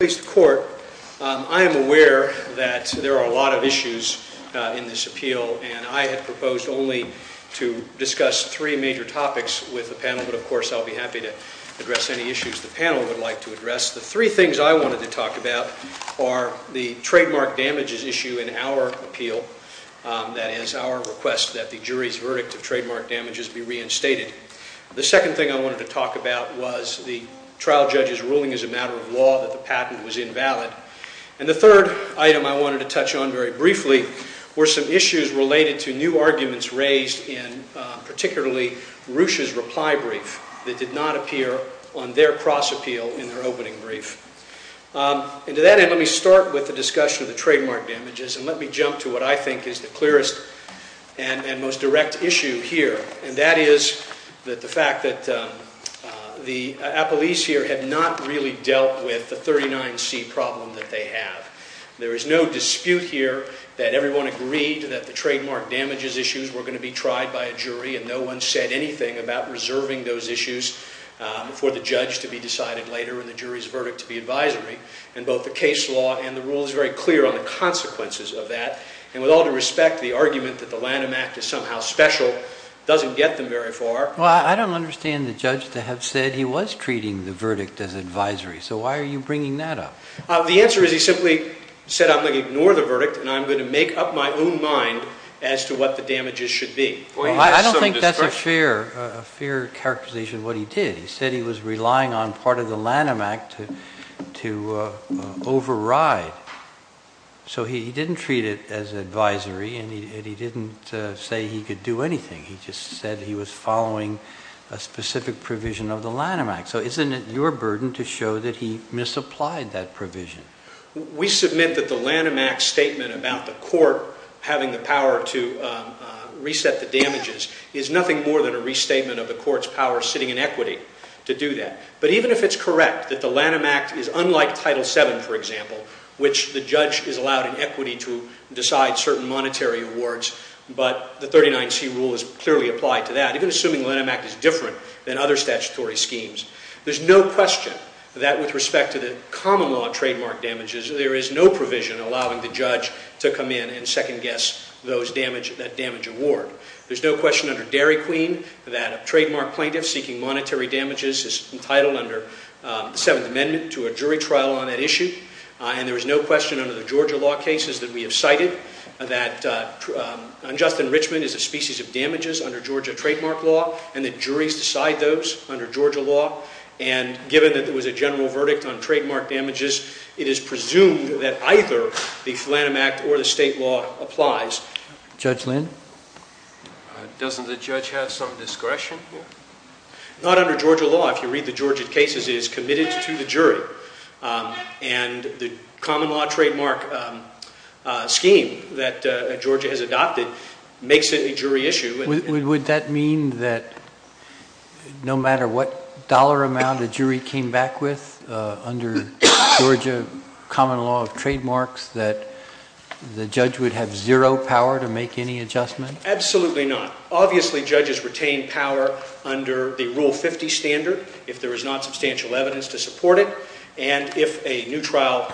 I am aware that there are a lot of issues in this appeal, and I had proposed only to discuss three major topics with the panel, but of course I'll be happy to address any issues the panel would like to address. The three things I wanted to talk about are the trademark damages issue in our appeal, that is, our request that the jury's verdict of trademark damages be reinstated. The second thing I wanted to talk about was the trial judge's ruling as a matter of law that the patent was invalid. And the third item I wanted to touch on very briefly were some issues related to new arguments raised in particularly Roosh's reply brief that did not appear on their cross appeal in their opening brief. And to that end, let me start with the discussion of the trademark damages, and let me jump to what I think is the clearest and most direct issue here. And that is that the fact that the appellees here had not really dealt with the 39C problem that they have. There is no dispute here that everyone agreed that the trademark damages issues were going to be tried by a jury, and no one said anything about reserving those issues for the judge to be decided later and the jury's verdict to be advisory. And both the case law and the rule is very clear on the consequences of that. And with all due respect, the argument that the Lanham Act is somehow special doesn't get them very far. Well, I don't understand the judge to have said he was treating the verdict as advisory, so why are you bringing that up? The answer is he simply said, I'm going to ignore the verdict and I'm going to make up my own mind as to what the damages should be. Well, I don't think that's a fair characterization of what he did. He said he was relying on part of the Lanham Act to override. So he didn't treat it as advisory and he didn't say he could do anything. He just said he was following a specific provision of the Lanham Act. So isn't it your burden to show that he misapplied that provision? We submit that the Lanham Act statement about the court having the power to reset the damages is nothing more than a restatement of the court's power sitting in equity to do that. But even if it's correct that the Lanham Act is unlike Title VII, for example, which the judge is allowed in equity to decide certain monetary awards, but the 39C rule is clearly applied to that, even assuming the Lanham Act is different than other statutory schemes, there's no question that with respect to the common law trademark damages, there is no provision allowing the judge to come in and second-guess that damage award. There's no question under Dairy Queen that a trademark plaintiff seeking monetary damages is entitled under the Seventh Amendment to a jury trial on that issue. And there is no question under the Georgia law cases that we have cited that unjust enrichment is a species of damages under Georgia trademark law and that juries decide those under Georgia law. And given that there was a general verdict on trademark damages, it is presumed that either the Lanham Act or the state law applies. Judge Lynn? Doesn't the judge have some discretion? Not under Georgia law. If you read the Georgia cases, it is committed to the jury. And the common law trademark scheme that Georgia has adopted makes it a jury issue. Would that mean that no matter what dollar amount a jury came back with under Georgia common law of trademarks, that the judge would have zero power to make any adjustment? Absolutely not. Obviously, judges retain power under the Rule 50 standard if there is not substantial evidence to support it, and if a new trial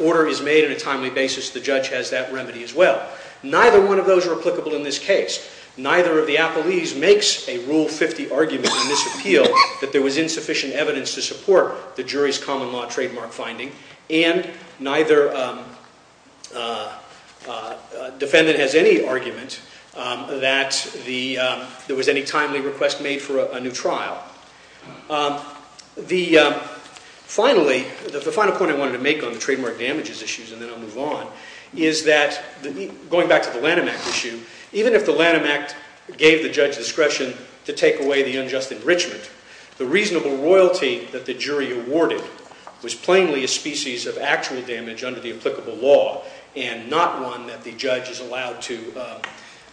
order is made on a timely basis, the judge has that remedy as well. Neither one of those are applicable in this case. Neither of the appellees makes a Rule 50 argument in this appeal that there was insufficient evidence to support the jury's common law trademark finding, and neither defendant has any argument that there was any timely request made for a new trial. The final point I wanted to make on the trademark damages issues, and then I'll move on, is that going back to the Lanham Act issue, even if the Lanham Act gave the judge discretion to take away the unjust enrichment, the reasonable royalty that the jury awarded was plainly a species of actual damage under the applicable law and not one that the judge is allowed to,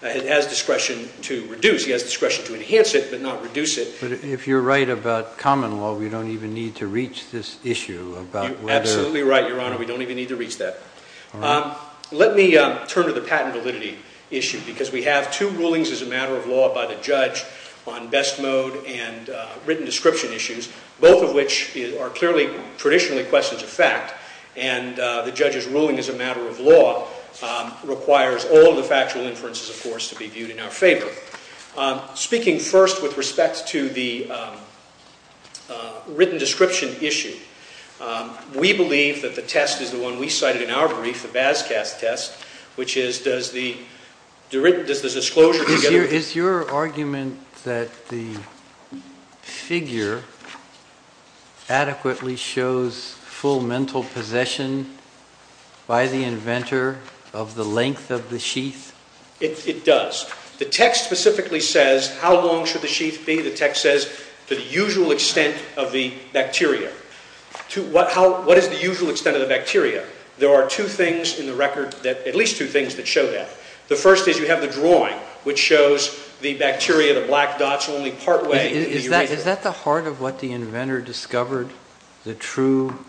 has discretion to reduce. He has discretion to enhance it but not reduce it. But if you're right about common law, we don't even need to reach this issue about whether... You're absolutely right, Your Honor. We don't even need to reach that. Let me turn to the patent validity issue because we have two rulings as a matter of law by the judge on best mode and written description issues, both of which are clearly traditionally questions of fact, and the judge's ruling as a matter of law requires all the factual inferences, of course, to be viewed in our favor. Speaking first with respect to the written description issue, we believe that the test is the one we cited in our brief, the Vasquez test, which is does the disclosure... Is your argument that the figure adequately shows full mental possession by the inventor of the length of the sheath? It does. The text specifically says how long should the sheath be. The text says to the usual extent of the bacteria. What is the usual extent of the bacteria? There are two things in the record, at least two things, that show that. The first is you have the drawing, which shows the bacteria, the black dots, only partway. Is that the heart of what the inventor discovered, the true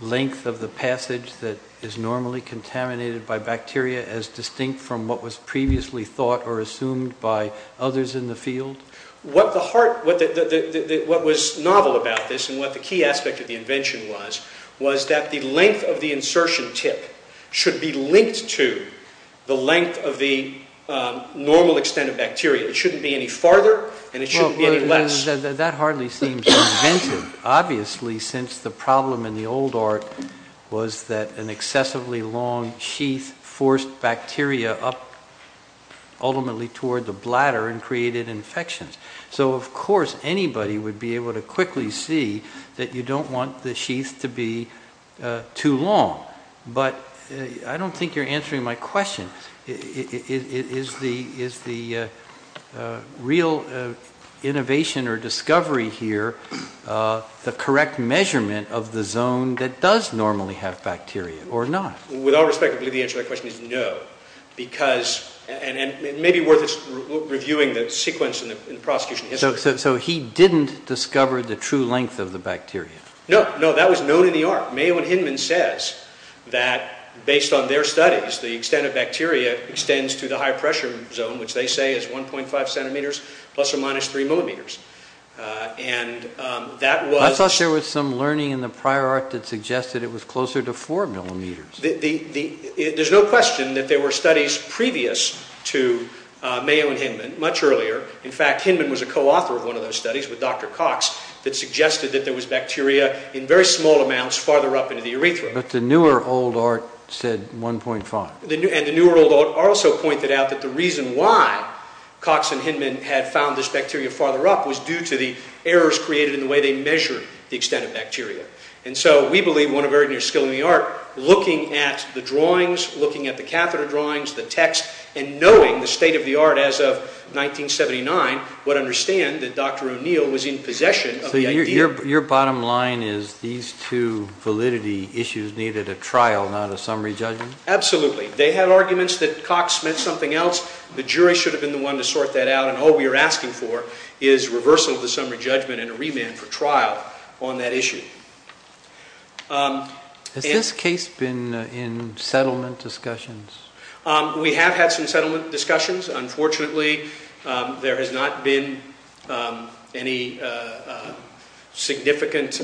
length of the passage that is normally contaminated by bacteria as distinct from what was previously thought or assumed by others in the field? What was novel about this and what the key aspect of the invention was, was that the length of the insertion tip should be linked to the length of the normal extent of bacteria. It shouldn't be any farther and it shouldn't be any less. That hardly seems inventive, obviously, since the problem in the old art was that an excessively long sheath forced bacteria up ultimately toward the bladder and created infections. So, of course, anybody would be able to quickly see that you don't want the sheath to be too long. But I don't think you're answering my question. Is the real innovation or discovery here the correct measurement of the zone that does normally have bacteria or not? With all respect, I believe the answer to that question is no. It may be worth reviewing the sequence in the prosecution history. So he didn't discover the true length of the bacteria? No, that was known in the art. Mayo and Hinman says that, based on their studies, the extent of bacteria extends to the high-pressure zone, which they say is 1.5 centimeters plus or minus 3 millimeters. I thought there was some learning in the prior art that suggested it was closer to 4 millimeters. There's no question that there were studies previous to Mayo and Hinman, much earlier. In fact, Hinman was a co-author of one of those studies with Dr. Cox that suggested that there was bacteria in very small amounts farther up into the urethra. But the newer old art said 1.5. And the newer old art also pointed out that the reason why Cox and Hinman had found this bacteria farther up was due to the errors created in the way they measured the extent of bacteria. And so we believe, one of Erdner's skills in the art, looking at the drawings, looking at the catheter drawings, the text, and knowing the state of the art as of 1979, would understand that Dr. O'Neill was in possession of the idea. So your bottom line is these two validity issues needed a trial, not a summary judgment? Absolutely. They had arguments that Cox meant something else. The jury should have been the one to sort that out. And all we are asking for is reversal of the summary judgment and a remand for trial on that issue. Has this case been in settlement discussions? We have had some settlement discussions. Unfortunately, there has not been any significant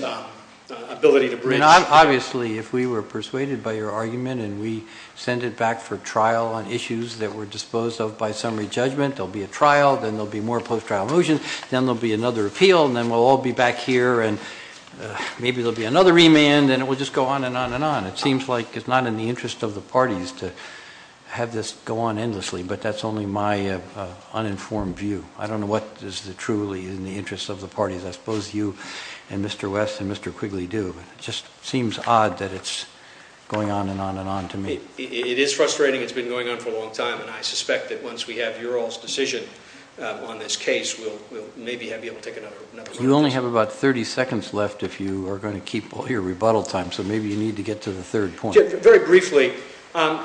ability to bridge. Obviously, if we were persuaded by your argument and we send it back for trial on issues that were disposed of by summary judgment, there will be a trial, then there will be more post-trial motions, then there will be another appeal, and then we'll all be back here and maybe there will be another remand, and it will just go on and on and on. It seems like it's not in the interest of the parties to have this go on endlessly, but that's only my uninformed view. I don't know what is truly in the interest of the parties. I suppose you and Mr. West and Mr. Quigley do. It just seems odd that it's going on and on and on to me. It is frustrating. It's been going on for a long time, and I suspect that once we have your all's decision on this case, we'll maybe be able to take another one. You only have about 30 seconds left if you are going to keep your rebuttal time, so maybe you need to get to the third point. Very briefly,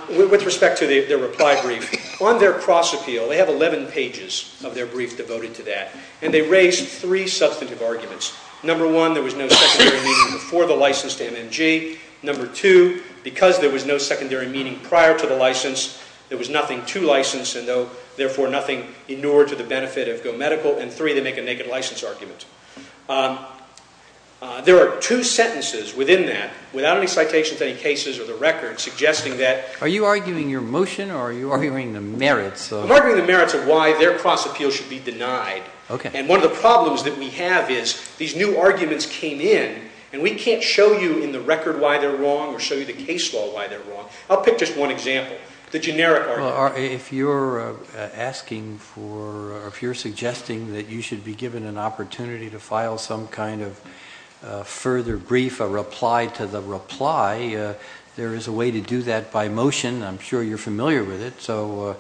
with respect to their reply brief, on their cross-appeal, they have 11 pages of their brief devoted to that, and they raise three substantive arguments. Number one, there was no secondary meaning before the license to MMG. Number two, because there was no secondary meaning prior to the license, there was nothing to license, and therefore nothing inured to the benefit of GoMedical. And three, they make a naked license argument. There are two sentences within that, without any citations to any cases or the record, suggesting that— Are you arguing your motion, or are you arguing the merits of— I'm arguing the merits of why their cross-appeal should be denied. Okay. And one of the problems that we have is these new arguments came in, and we can't show you in the record why they're wrong or show you the case law why they're wrong. I'll pick just one example, the generic argument. Well, if you're asking for—if you're suggesting that you should be given an opportunity to file some kind of further brief, a reply to the reply, there is a way to do that by motion. I'm sure you're familiar with it. So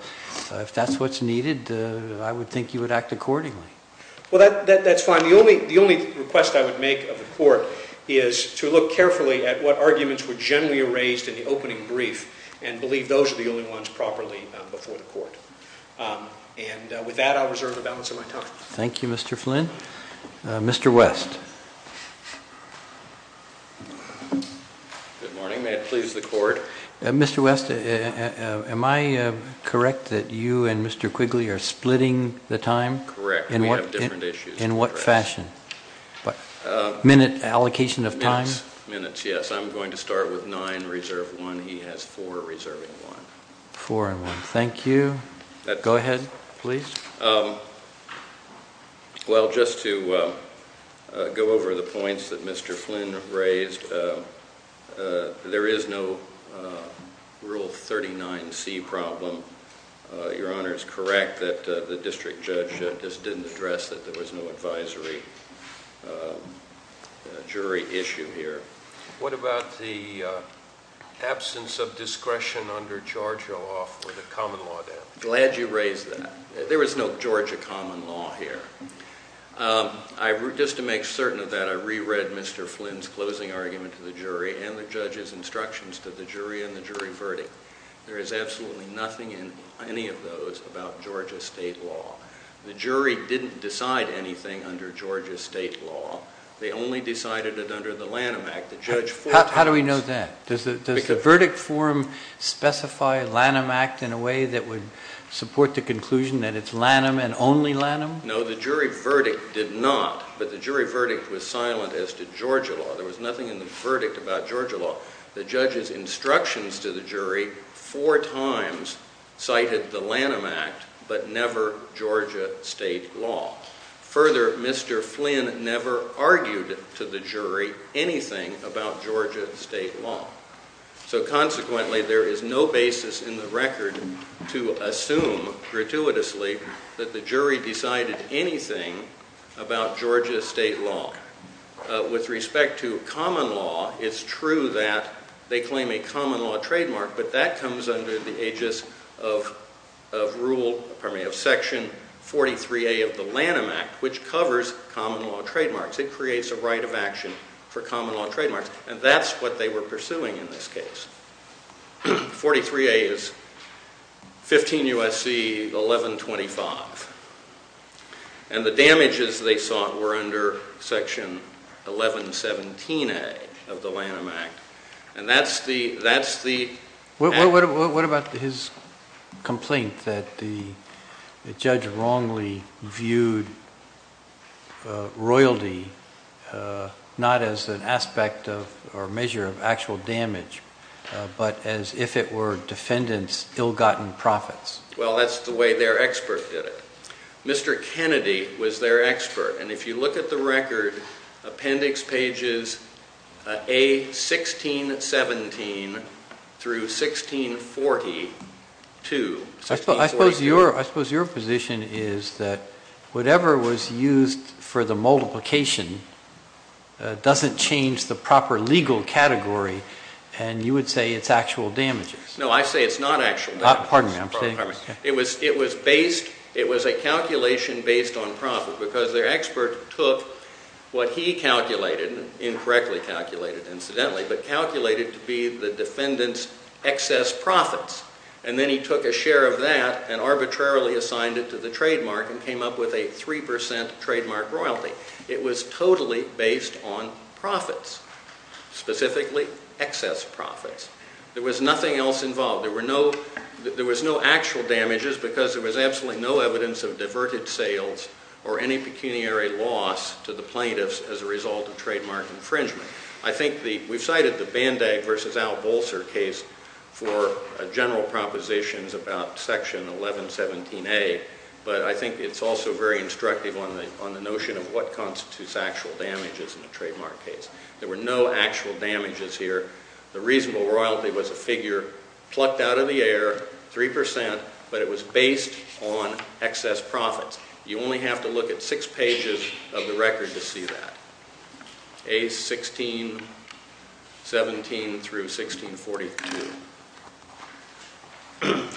if that's what's needed, I would think you would act accordingly. Well, that's fine. The only request I would make of the Court is to look carefully at what arguments were generally raised in the opening brief and believe those are the only ones properly before the Court. And with that, I'll reserve the balance of my time. Thank you, Mr. Flynn. Mr. West. Good morning. May it please the Court? Mr. West, am I correct that you and Mr. Quigley are splitting the time? Correct. We have different issues. In what fashion? Minute allocation of time? Minutes, yes. I'm going to start with nine, reserve one. He has four, reserving one. Four and one. Thank you. Go ahead, please. Well, just to go over the points that Mr. Flynn raised, there is no Rule 39C problem. Your Honor is correct that the district judge just didn't address that there was no advisory jury issue here. What about the absence of discretion under Georgia law for the common law? Glad you raised that. There was no Georgia common law here. Just to make certain of that, I reread Mr. Flynn's closing argument to the jury and the judge's instructions to the jury in the jury verdict. There is absolutely nothing in any of those about Georgia state law. The jury didn't decide anything under Georgia state law. They only decided it under the Lanham Act. How do we know that? Does the verdict form specify Lanham Act in a way that would support the conclusion that it's Lanham and only Lanham? No, the jury verdict did not, but the jury verdict was silent as to Georgia law. There was nothing in the verdict about Georgia law. The judge's instructions to the jury four times cited the Lanham Act but never Georgia state law. Further, Mr. Flynn never argued to the jury anything about Georgia state law. So consequently, there is no basis in the record to assume gratuitously that the jury decided anything about Georgia state law. With respect to common law, it's true that they claim a common law trademark, but that comes under the aegis of section 43A of the Lanham Act, which covers common law trademarks. It creates a right of action for common law trademarks, and that's what they were pursuing in this case. 43A is 15 U.S.C. 1125, and the damages they sought were under section 1117A of the Lanham Act, and that's the- What about his complaint that the judge wrongly viewed royalty not as an aspect or measure of actual damage, but as if it were defendants' ill-gotten profits? Well, that's the way their expert did it. Mr. Kennedy was their expert, and if you look at the record, appendix pages A1617 through 1642- I suppose your position is that whatever was used for the multiplication doesn't change the proper legal category, and you would say it's actual damages. No, I say it's not actual damages. Pardon me, I'm saying- It was a calculation based on profit, because their expert took what he calculated- incorrectly calculated, incidentally- but calculated to be the defendant's excess profits, and then he took a share of that and arbitrarily assigned it to the trademark and came up with a 3% trademark royalty. It was totally based on profits, specifically excess profits. There was nothing else involved. There was no actual damages because there was absolutely no evidence of diverted sales or any pecuniary loss to the plaintiffs as a result of trademark infringement. I think we've cited the Band-Aid v. Al Bolser case for general propositions about Section 1117A, but I think it's also very instructive on the notion of what constitutes actual damages in a trademark case. There were no actual damages here. The reasonable royalty was a figure plucked out of the air, 3%, but it was based on excess profits. You only have to look at six pages of the record to see that, A1617 through 1642.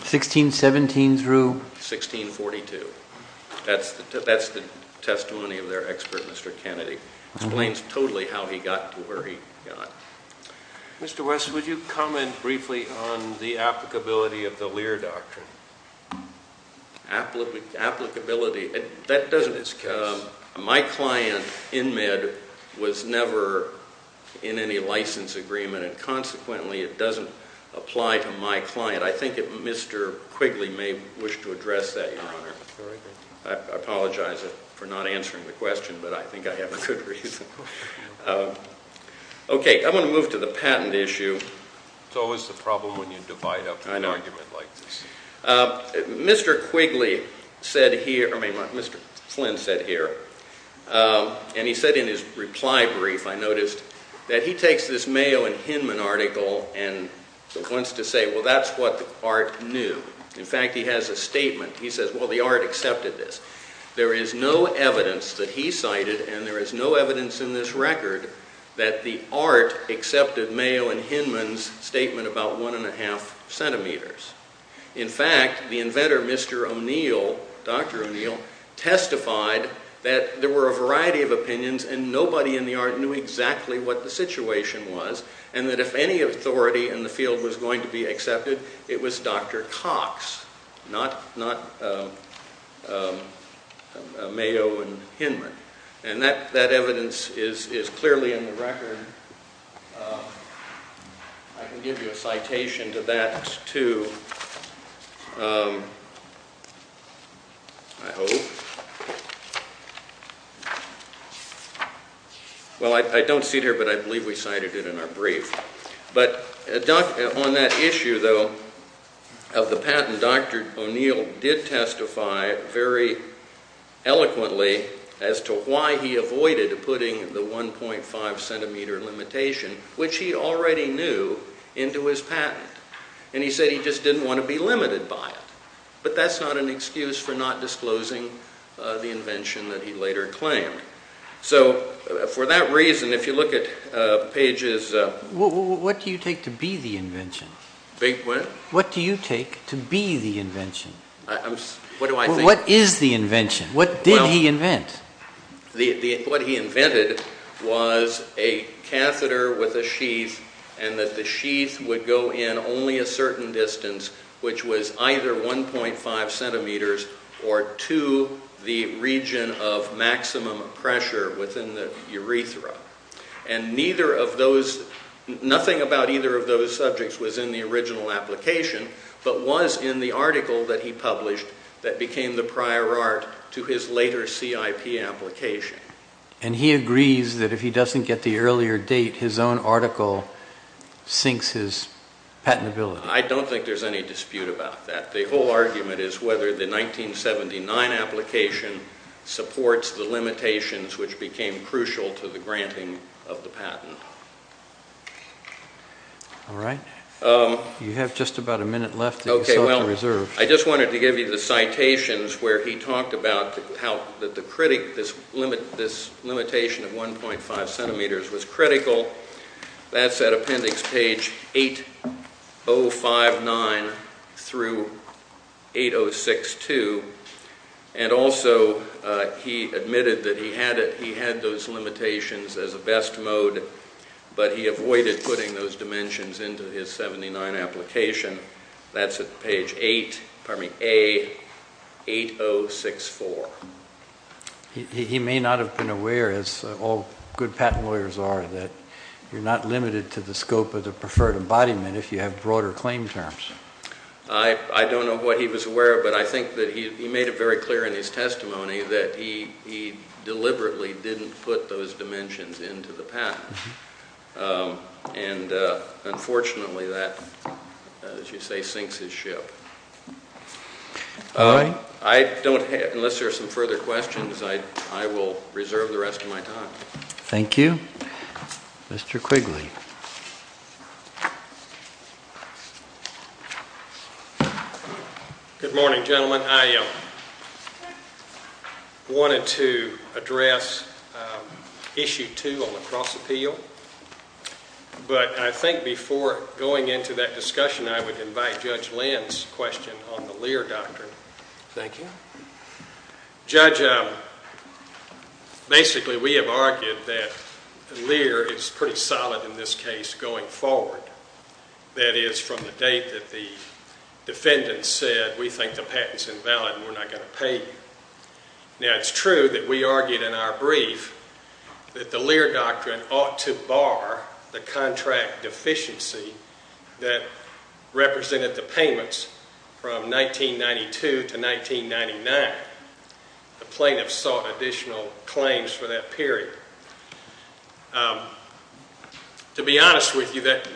1617 through- 1642. That's the testimony of their expert, Mr. Kennedy. It explains totally how he got to where he got. Mr. West, would you comment briefly on the applicability of the Lear Doctrine? Applicability? That doesn't- In this case. My client in Med was never in any license agreement, and consequently it doesn't apply to my client. I think that Mr. Quigley may wish to address that, Your Honor. All right. I apologize for not answering the question, but I think I have a good reason. Okay, I'm going to move to the patent issue. It's always the problem when you divide up an argument like this. I know. Mr. Quigley said here- I mean, Mr. Flynn said here, and he said in his reply brief, I noticed, that he takes this Mayo and Hinman article and wants to say, well, that's what the art knew. In fact, he has a statement. He says, well, the art accepted this. There is no evidence that he cited, and there is no evidence in this record, that the art accepted Mayo and Hinman's statement about one and a half centimeters. In fact, the inventor, Mr. O'Neill, Dr. O'Neill, testified that there were a variety of opinions, and nobody in the art knew exactly what the situation was, and that if any authority in the field was going to be accepted, it was Dr. Cox, not Mayo and Hinman. And that evidence is clearly in the record. I can give you a citation to that, too, I hope. Well, I don't see it here, but I believe we cited it in our brief. But on that issue, though, of the patent, Dr. O'Neill did testify very eloquently as to why he avoided putting the 1.5 centimeter limitation, which he already knew, into his patent. And he said he just didn't want to be limited by it. But that's not an excuse for not disclosing the invention that he later claimed. So, for that reason, if you look at pages... What do you take to be the invention? Big what? What do you take to be the invention? What do I think? What is the invention? What did he invent? What he invented was a catheter with a sheath, and that the sheath would go in only a certain distance, which was either 1.5 centimeters or to the region of maximum pressure within the urethra. And nothing about either of those subjects was in the original application, but was in the article that he published that became the prior art to his later CIP application. And he agrees that if he doesn't get the earlier date, his own article sinks his patentability. I don't think there's any dispute about that. The whole argument is whether the 1979 application supports the limitations, which became crucial to the granting of the patent. All right. You have just about a minute left that you still have to reserve. I just wanted to give you the citations where he talked about how this limitation of 1.5 centimeters was critical. That's at appendix page 8059 through 8062. And also he admitted that he had those limitations as a best mode, but he avoided putting those dimensions into his 1979 application. That's at page 8, pardon me, A8064. He may not have been aware, as all good patent lawyers are, that you're not limited to the scope of the preferred embodiment if you have broader claim terms. I don't know what he was aware of, but I think that he made it very clear in his testimony that he deliberately didn't put those dimensions into the patent. And unfortunately that, as you say, sinks his ship. All right. Unless there are some further questions, I will reserve the rest of my time. Thank you. Mr. Quigley. Good morning, gentlemen. I wanted to address Issue 2 on the cross-appeal, but I think before going into that discussion I would invite Judge Lynn's question on the Lear Doctrine. Thank you. Judge, basically we have argued that Lear is pretty solid in this case going forward. That is, from the date that the defendant said, we think the patent's invalid and we're not going to pay you. Now, it's true that we argued in our brief that the Lear Doctrine ought to bar the contract deficiency that represented the payments from 1992 to 1999. The plaintiff sought additional claims for that period. To be honest with you, that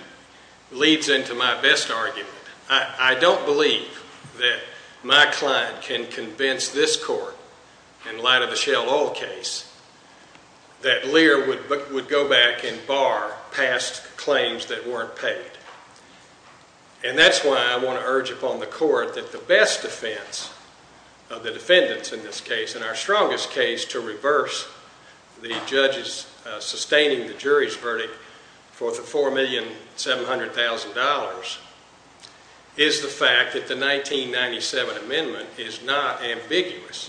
leads into my best argument. I don't believe that my client can convince this Court, in light of the Shell Oil case, that Lear would go back and bar past claims that weren't paid. And that's why I want to urge upon the Court that the best defense of the defendants in this case, and our strongest case to reverse the judges sustaining the jury's verdict for the $4,700,000, is the fact that the 1997 amendment is not ambiguous.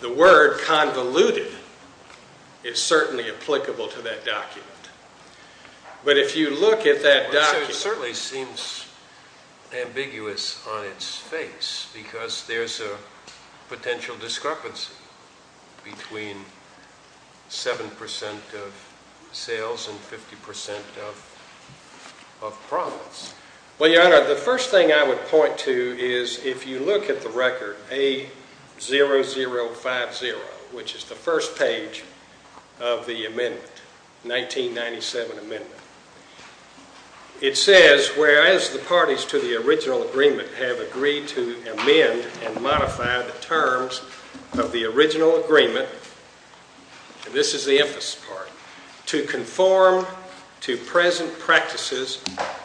The word convoluted is certainly applicable to that document. But if you look at that document... It certainly seems ambiguous on its face because there's a potential discrepancy between 7% of sales and 50% of promise. Well, Your Honor, the first thing I would point to is if you look at the record, A0050, which is the first page of the amendment, 1997 amendment, it says, whereas the parties to the original agreement have agreed to amend and modify the terms of the original agreement, and this is the emphasis part, to conform to present practices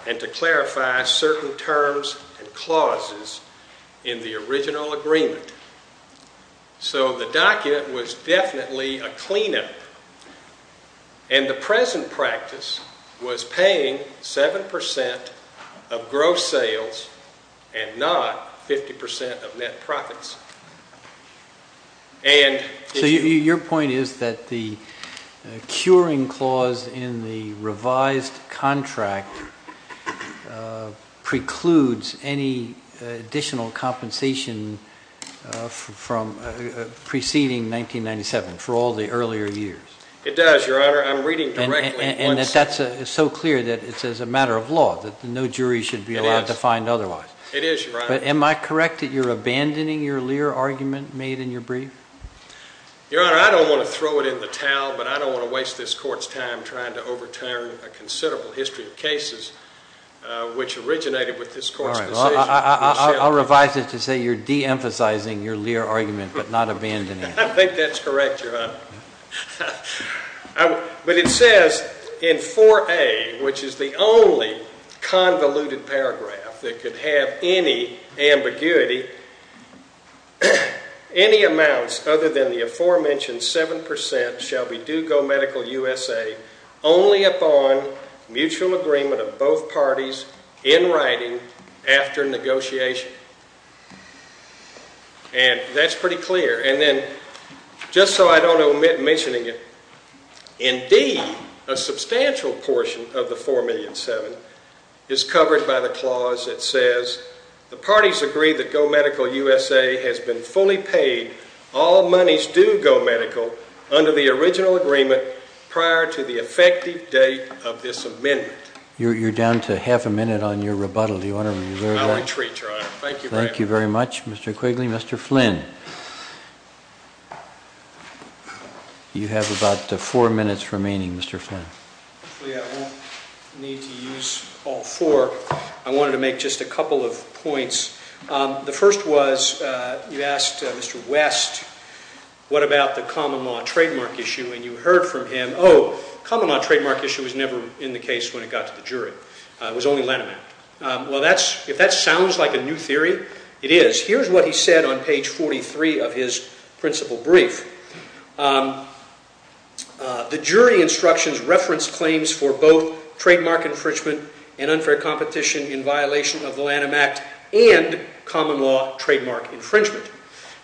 and to clarify certain terms and clauses in the original agreement. So the document was definitely a cleanup. And the present practice was paying 7% of gross sales and not 50% of net profits. So your point is that the curing clause in the revised contract precludes any additional compensation from preceding 1997 for all the earlier years. It does, Your Honor. I'm reading directly. And that's so clear that it's a matter of law, that no jury should be allowed to find otherwise. It is, Your Honor. But am I correct that you're abandoning your Lear argument made in your brief? Your Honor, I don't want to throw it in the towel, but I don't want to waste this Court's time trying to overturn a considerable history of cases which originated with this Court's decision. I'll revise it to say you're deemphasizing your Lear argument but not abandoning it. I think that's correct, Your Honor. But it says in 4A, which is the only convoluted paragraph that could have any ambiguity, any amounts other than the aforementioned 7% shall be due go medical USA only upon mutual agreement of both parties in writing after negotiation. And that's pretty clear. And then, just so I don't omit mentioning it, indeed a substantial portion of the 4,000,007 is covered by the clause that says the parties agree that go medical USA has been fully paid all monies due go medical under the original agreement prior to the effective date of this amendment. You're down to half a minute on your rebuttal, Your Honor. I'll retreat, Your Honor. Thank you very much. Thank you very much, Mr. Quigley. Mr. Flynn. You have about four minutes remaining, Mr. Flynn. Hopefully I won't need to use all four. I wanted to make just a couple of points. The first was you asked Mr. West what about the common law trademark issue. And you heard from him, oh, common law trademark issue was never in the case when it got to the jury. It was only Lanham Act. Well, if that sounds like a new theory, it is. Here's what he said on page 43 of his principal brief. The jury instructions reference claims for both trademark infringement and unfair competition in violation of the Lanham Act and common law trademark infringement.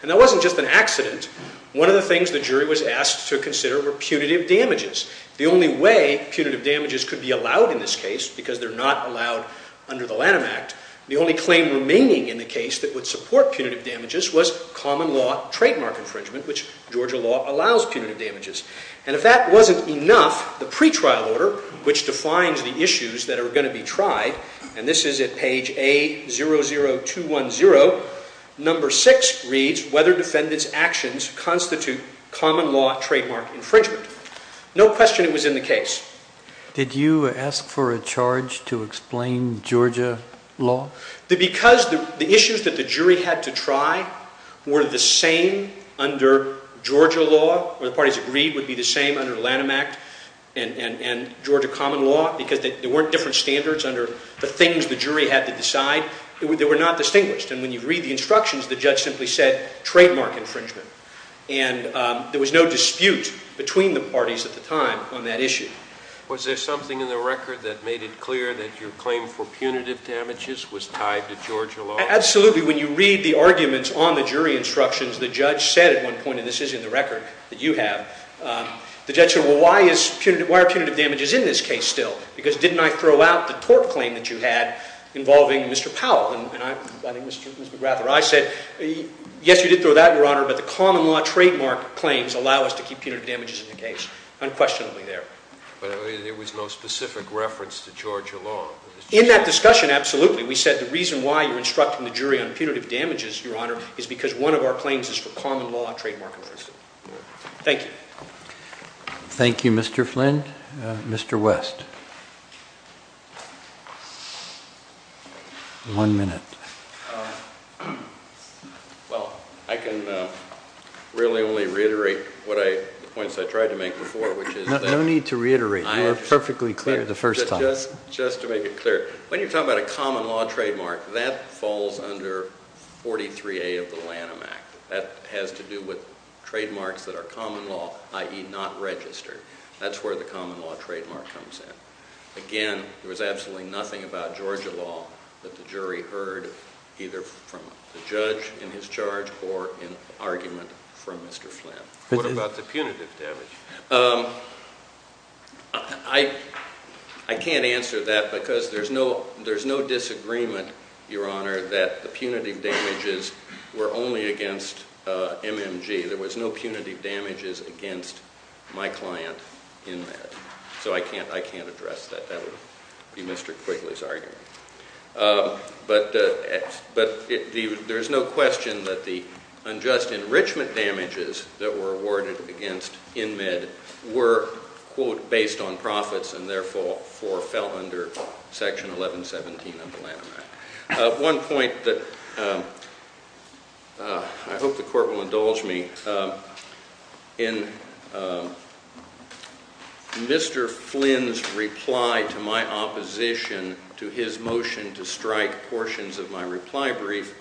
And that wasn't just an accident. One of the things the jury was asked to consider were punitive damages. The only way punitive damages could be allowed in this case, because they're not allowed under the Lanham Act, the only claim remaining in the case that would support punitive damages was common law trademark infringement, which Georgia law allows punitive damages. And if that wasn't enough, the pretrial order, which defines the issues that are going to be tried, and this is at page A00210, number 6 reads, whether defendant's actions constitute common law trademark infringement. No question it was in the case. Did you ask for a charge to explain Georgia law? Because the issues that the jury had to try were the same under Georgia law, or the parties agreed would be the same under Lanham Act and Georgia common law, because there weren't different standards under the things the jury had to decide. They were not distinguished. And when you read the instructions, the judge simply said trademark infringement. And there was no dispute between the parties at the time on that issue. Was there something in the record that made it clear that your claim for punitive damages was tied to Georgia law? Absolutely. When you read the arguments on the jury instructions, the judge said at one point, and this is in the record that you have, the judge said, well, why are punitive damages in this case still? Because didn't I throw out the tort claim that you had involving Mr. Powell? And I said, yes, you did throw that out, Your Honor, but the common law trademark claims allow us to keep punitive damages in the case. Unquestionably there. But there was no specific reference to Georgia law? In that discussion, absolutely. We said the reason why you're instructing the jury on punitive damages, Your Honor, is because one of our claims is for common law trademark infringement. Thank you. Thank you, Mr. Flynn. Mr. West. One minute. Well, I can really only reiterate the points I tried to make before. No need to reiterate. You were perfectly clear the first time. Just to make it clear, when you're talking about a common law trademark, that falls under 43A of the Lanham Act. That has to do with trademarks that are common law, i.e. not registered. That's where the common law trademark comes in. Again, there was absolutely nothing about Georgia law that the jury heard either from the judge in his charge or an argument from Mr. Flynn. What about the punitive damage? I can't answer that because there's no disagreement, Your Honor, that the punitive damages were only against MMG. There was no punitive damages against my client, INMED. So I can't address that. That would be Mr. Quigley's argument. But there's no question that the unjust enrichment damages that were awarded against INMED were, quote, based on profits and therefore fell under Section 1117 of the Lanham Act. One point that I hope the Court will indulge me, in Mr. Flynn's reply to my opposition to his motion to strike portions of my reply brief,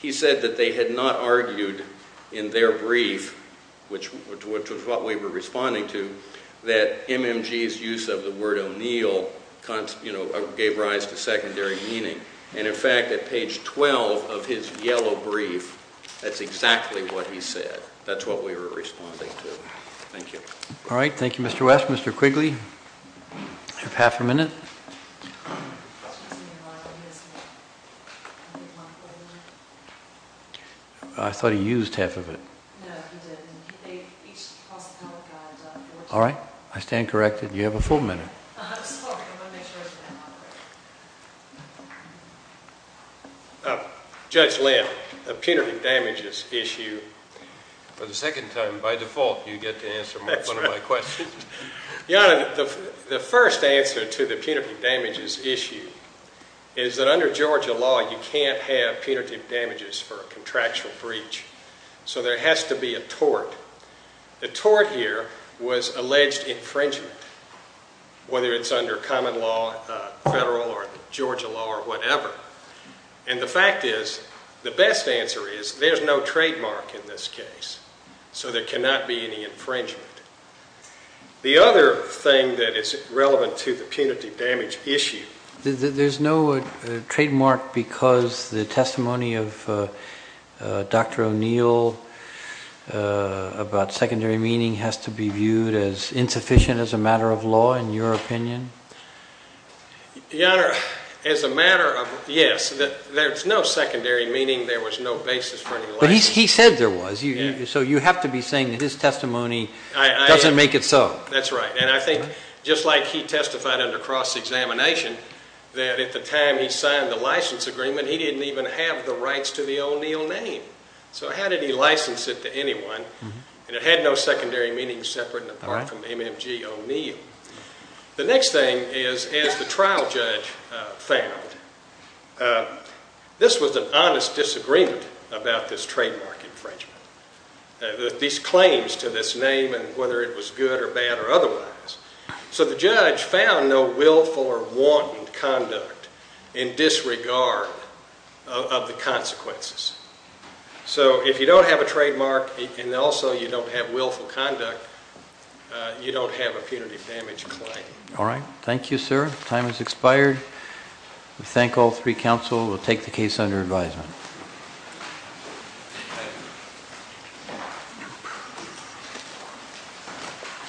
he said that they had not argued in their brief, which was what we were responding to, that MMG's use of the word O'Neill gave rise to secondary meaning. And, in fact, at page 12 of his yellow brief, that's exactly what he said. That's what we were responding to. Thank you. All right. Thank you, Mr. West. Mr. Quigley, you have half a minute. I thought he used half of it. No, he didn't. All right. I stand corrected. You have a full minute. I'm sorry. I want to make sure I stand on it. Judge Lind, the punitive damages issue, for the second time by default you get to answer one of my questions. Your Honor, the first answer to the punitive damages issue is that under Georgia law you can't have punitive damages for a contractual breach. So there has to be a tort. The tort here was alleged infringement, whether it's under common law, federal, or Georgia law, or whatever. And the fact is, the best answer is there's no trademark in this case. So there cannot be any infringement. The other thing that is relevant to the punitive damage issue... There's no trademark because the testimony of Dr. O'Neill about secondary meaning has to be viewed as insufficient as a matter of law, in your opinion? Your Honor, as a matter of... Yes, there's no secondary meaning. There was no basis for any language. But he said there was. So you have to be saying that his testimony doesn't make it so. That's right. And I think, just like he testified under cross-examination, that at the time he signed the license agreement, he didn't even have the rights to the O'Neill name. So how did he license it to anyone? And it had no secondary meaning separate and apart from MMG O'Neill. The next thing is, as the trial judge found, this was an honest disagreement about this trademark infringement. These claims to this name and whether it was good or bad or otherwise. So the judge found no willful or wanton conduct in disregard of the consequences. So if you don't have a trademark and also you don't have willful conduct, you don't have a punitive damage claim. All right. Thank you, sir. Time has expired. We thank all three counsel. We'll take the case under advisement. Thank you.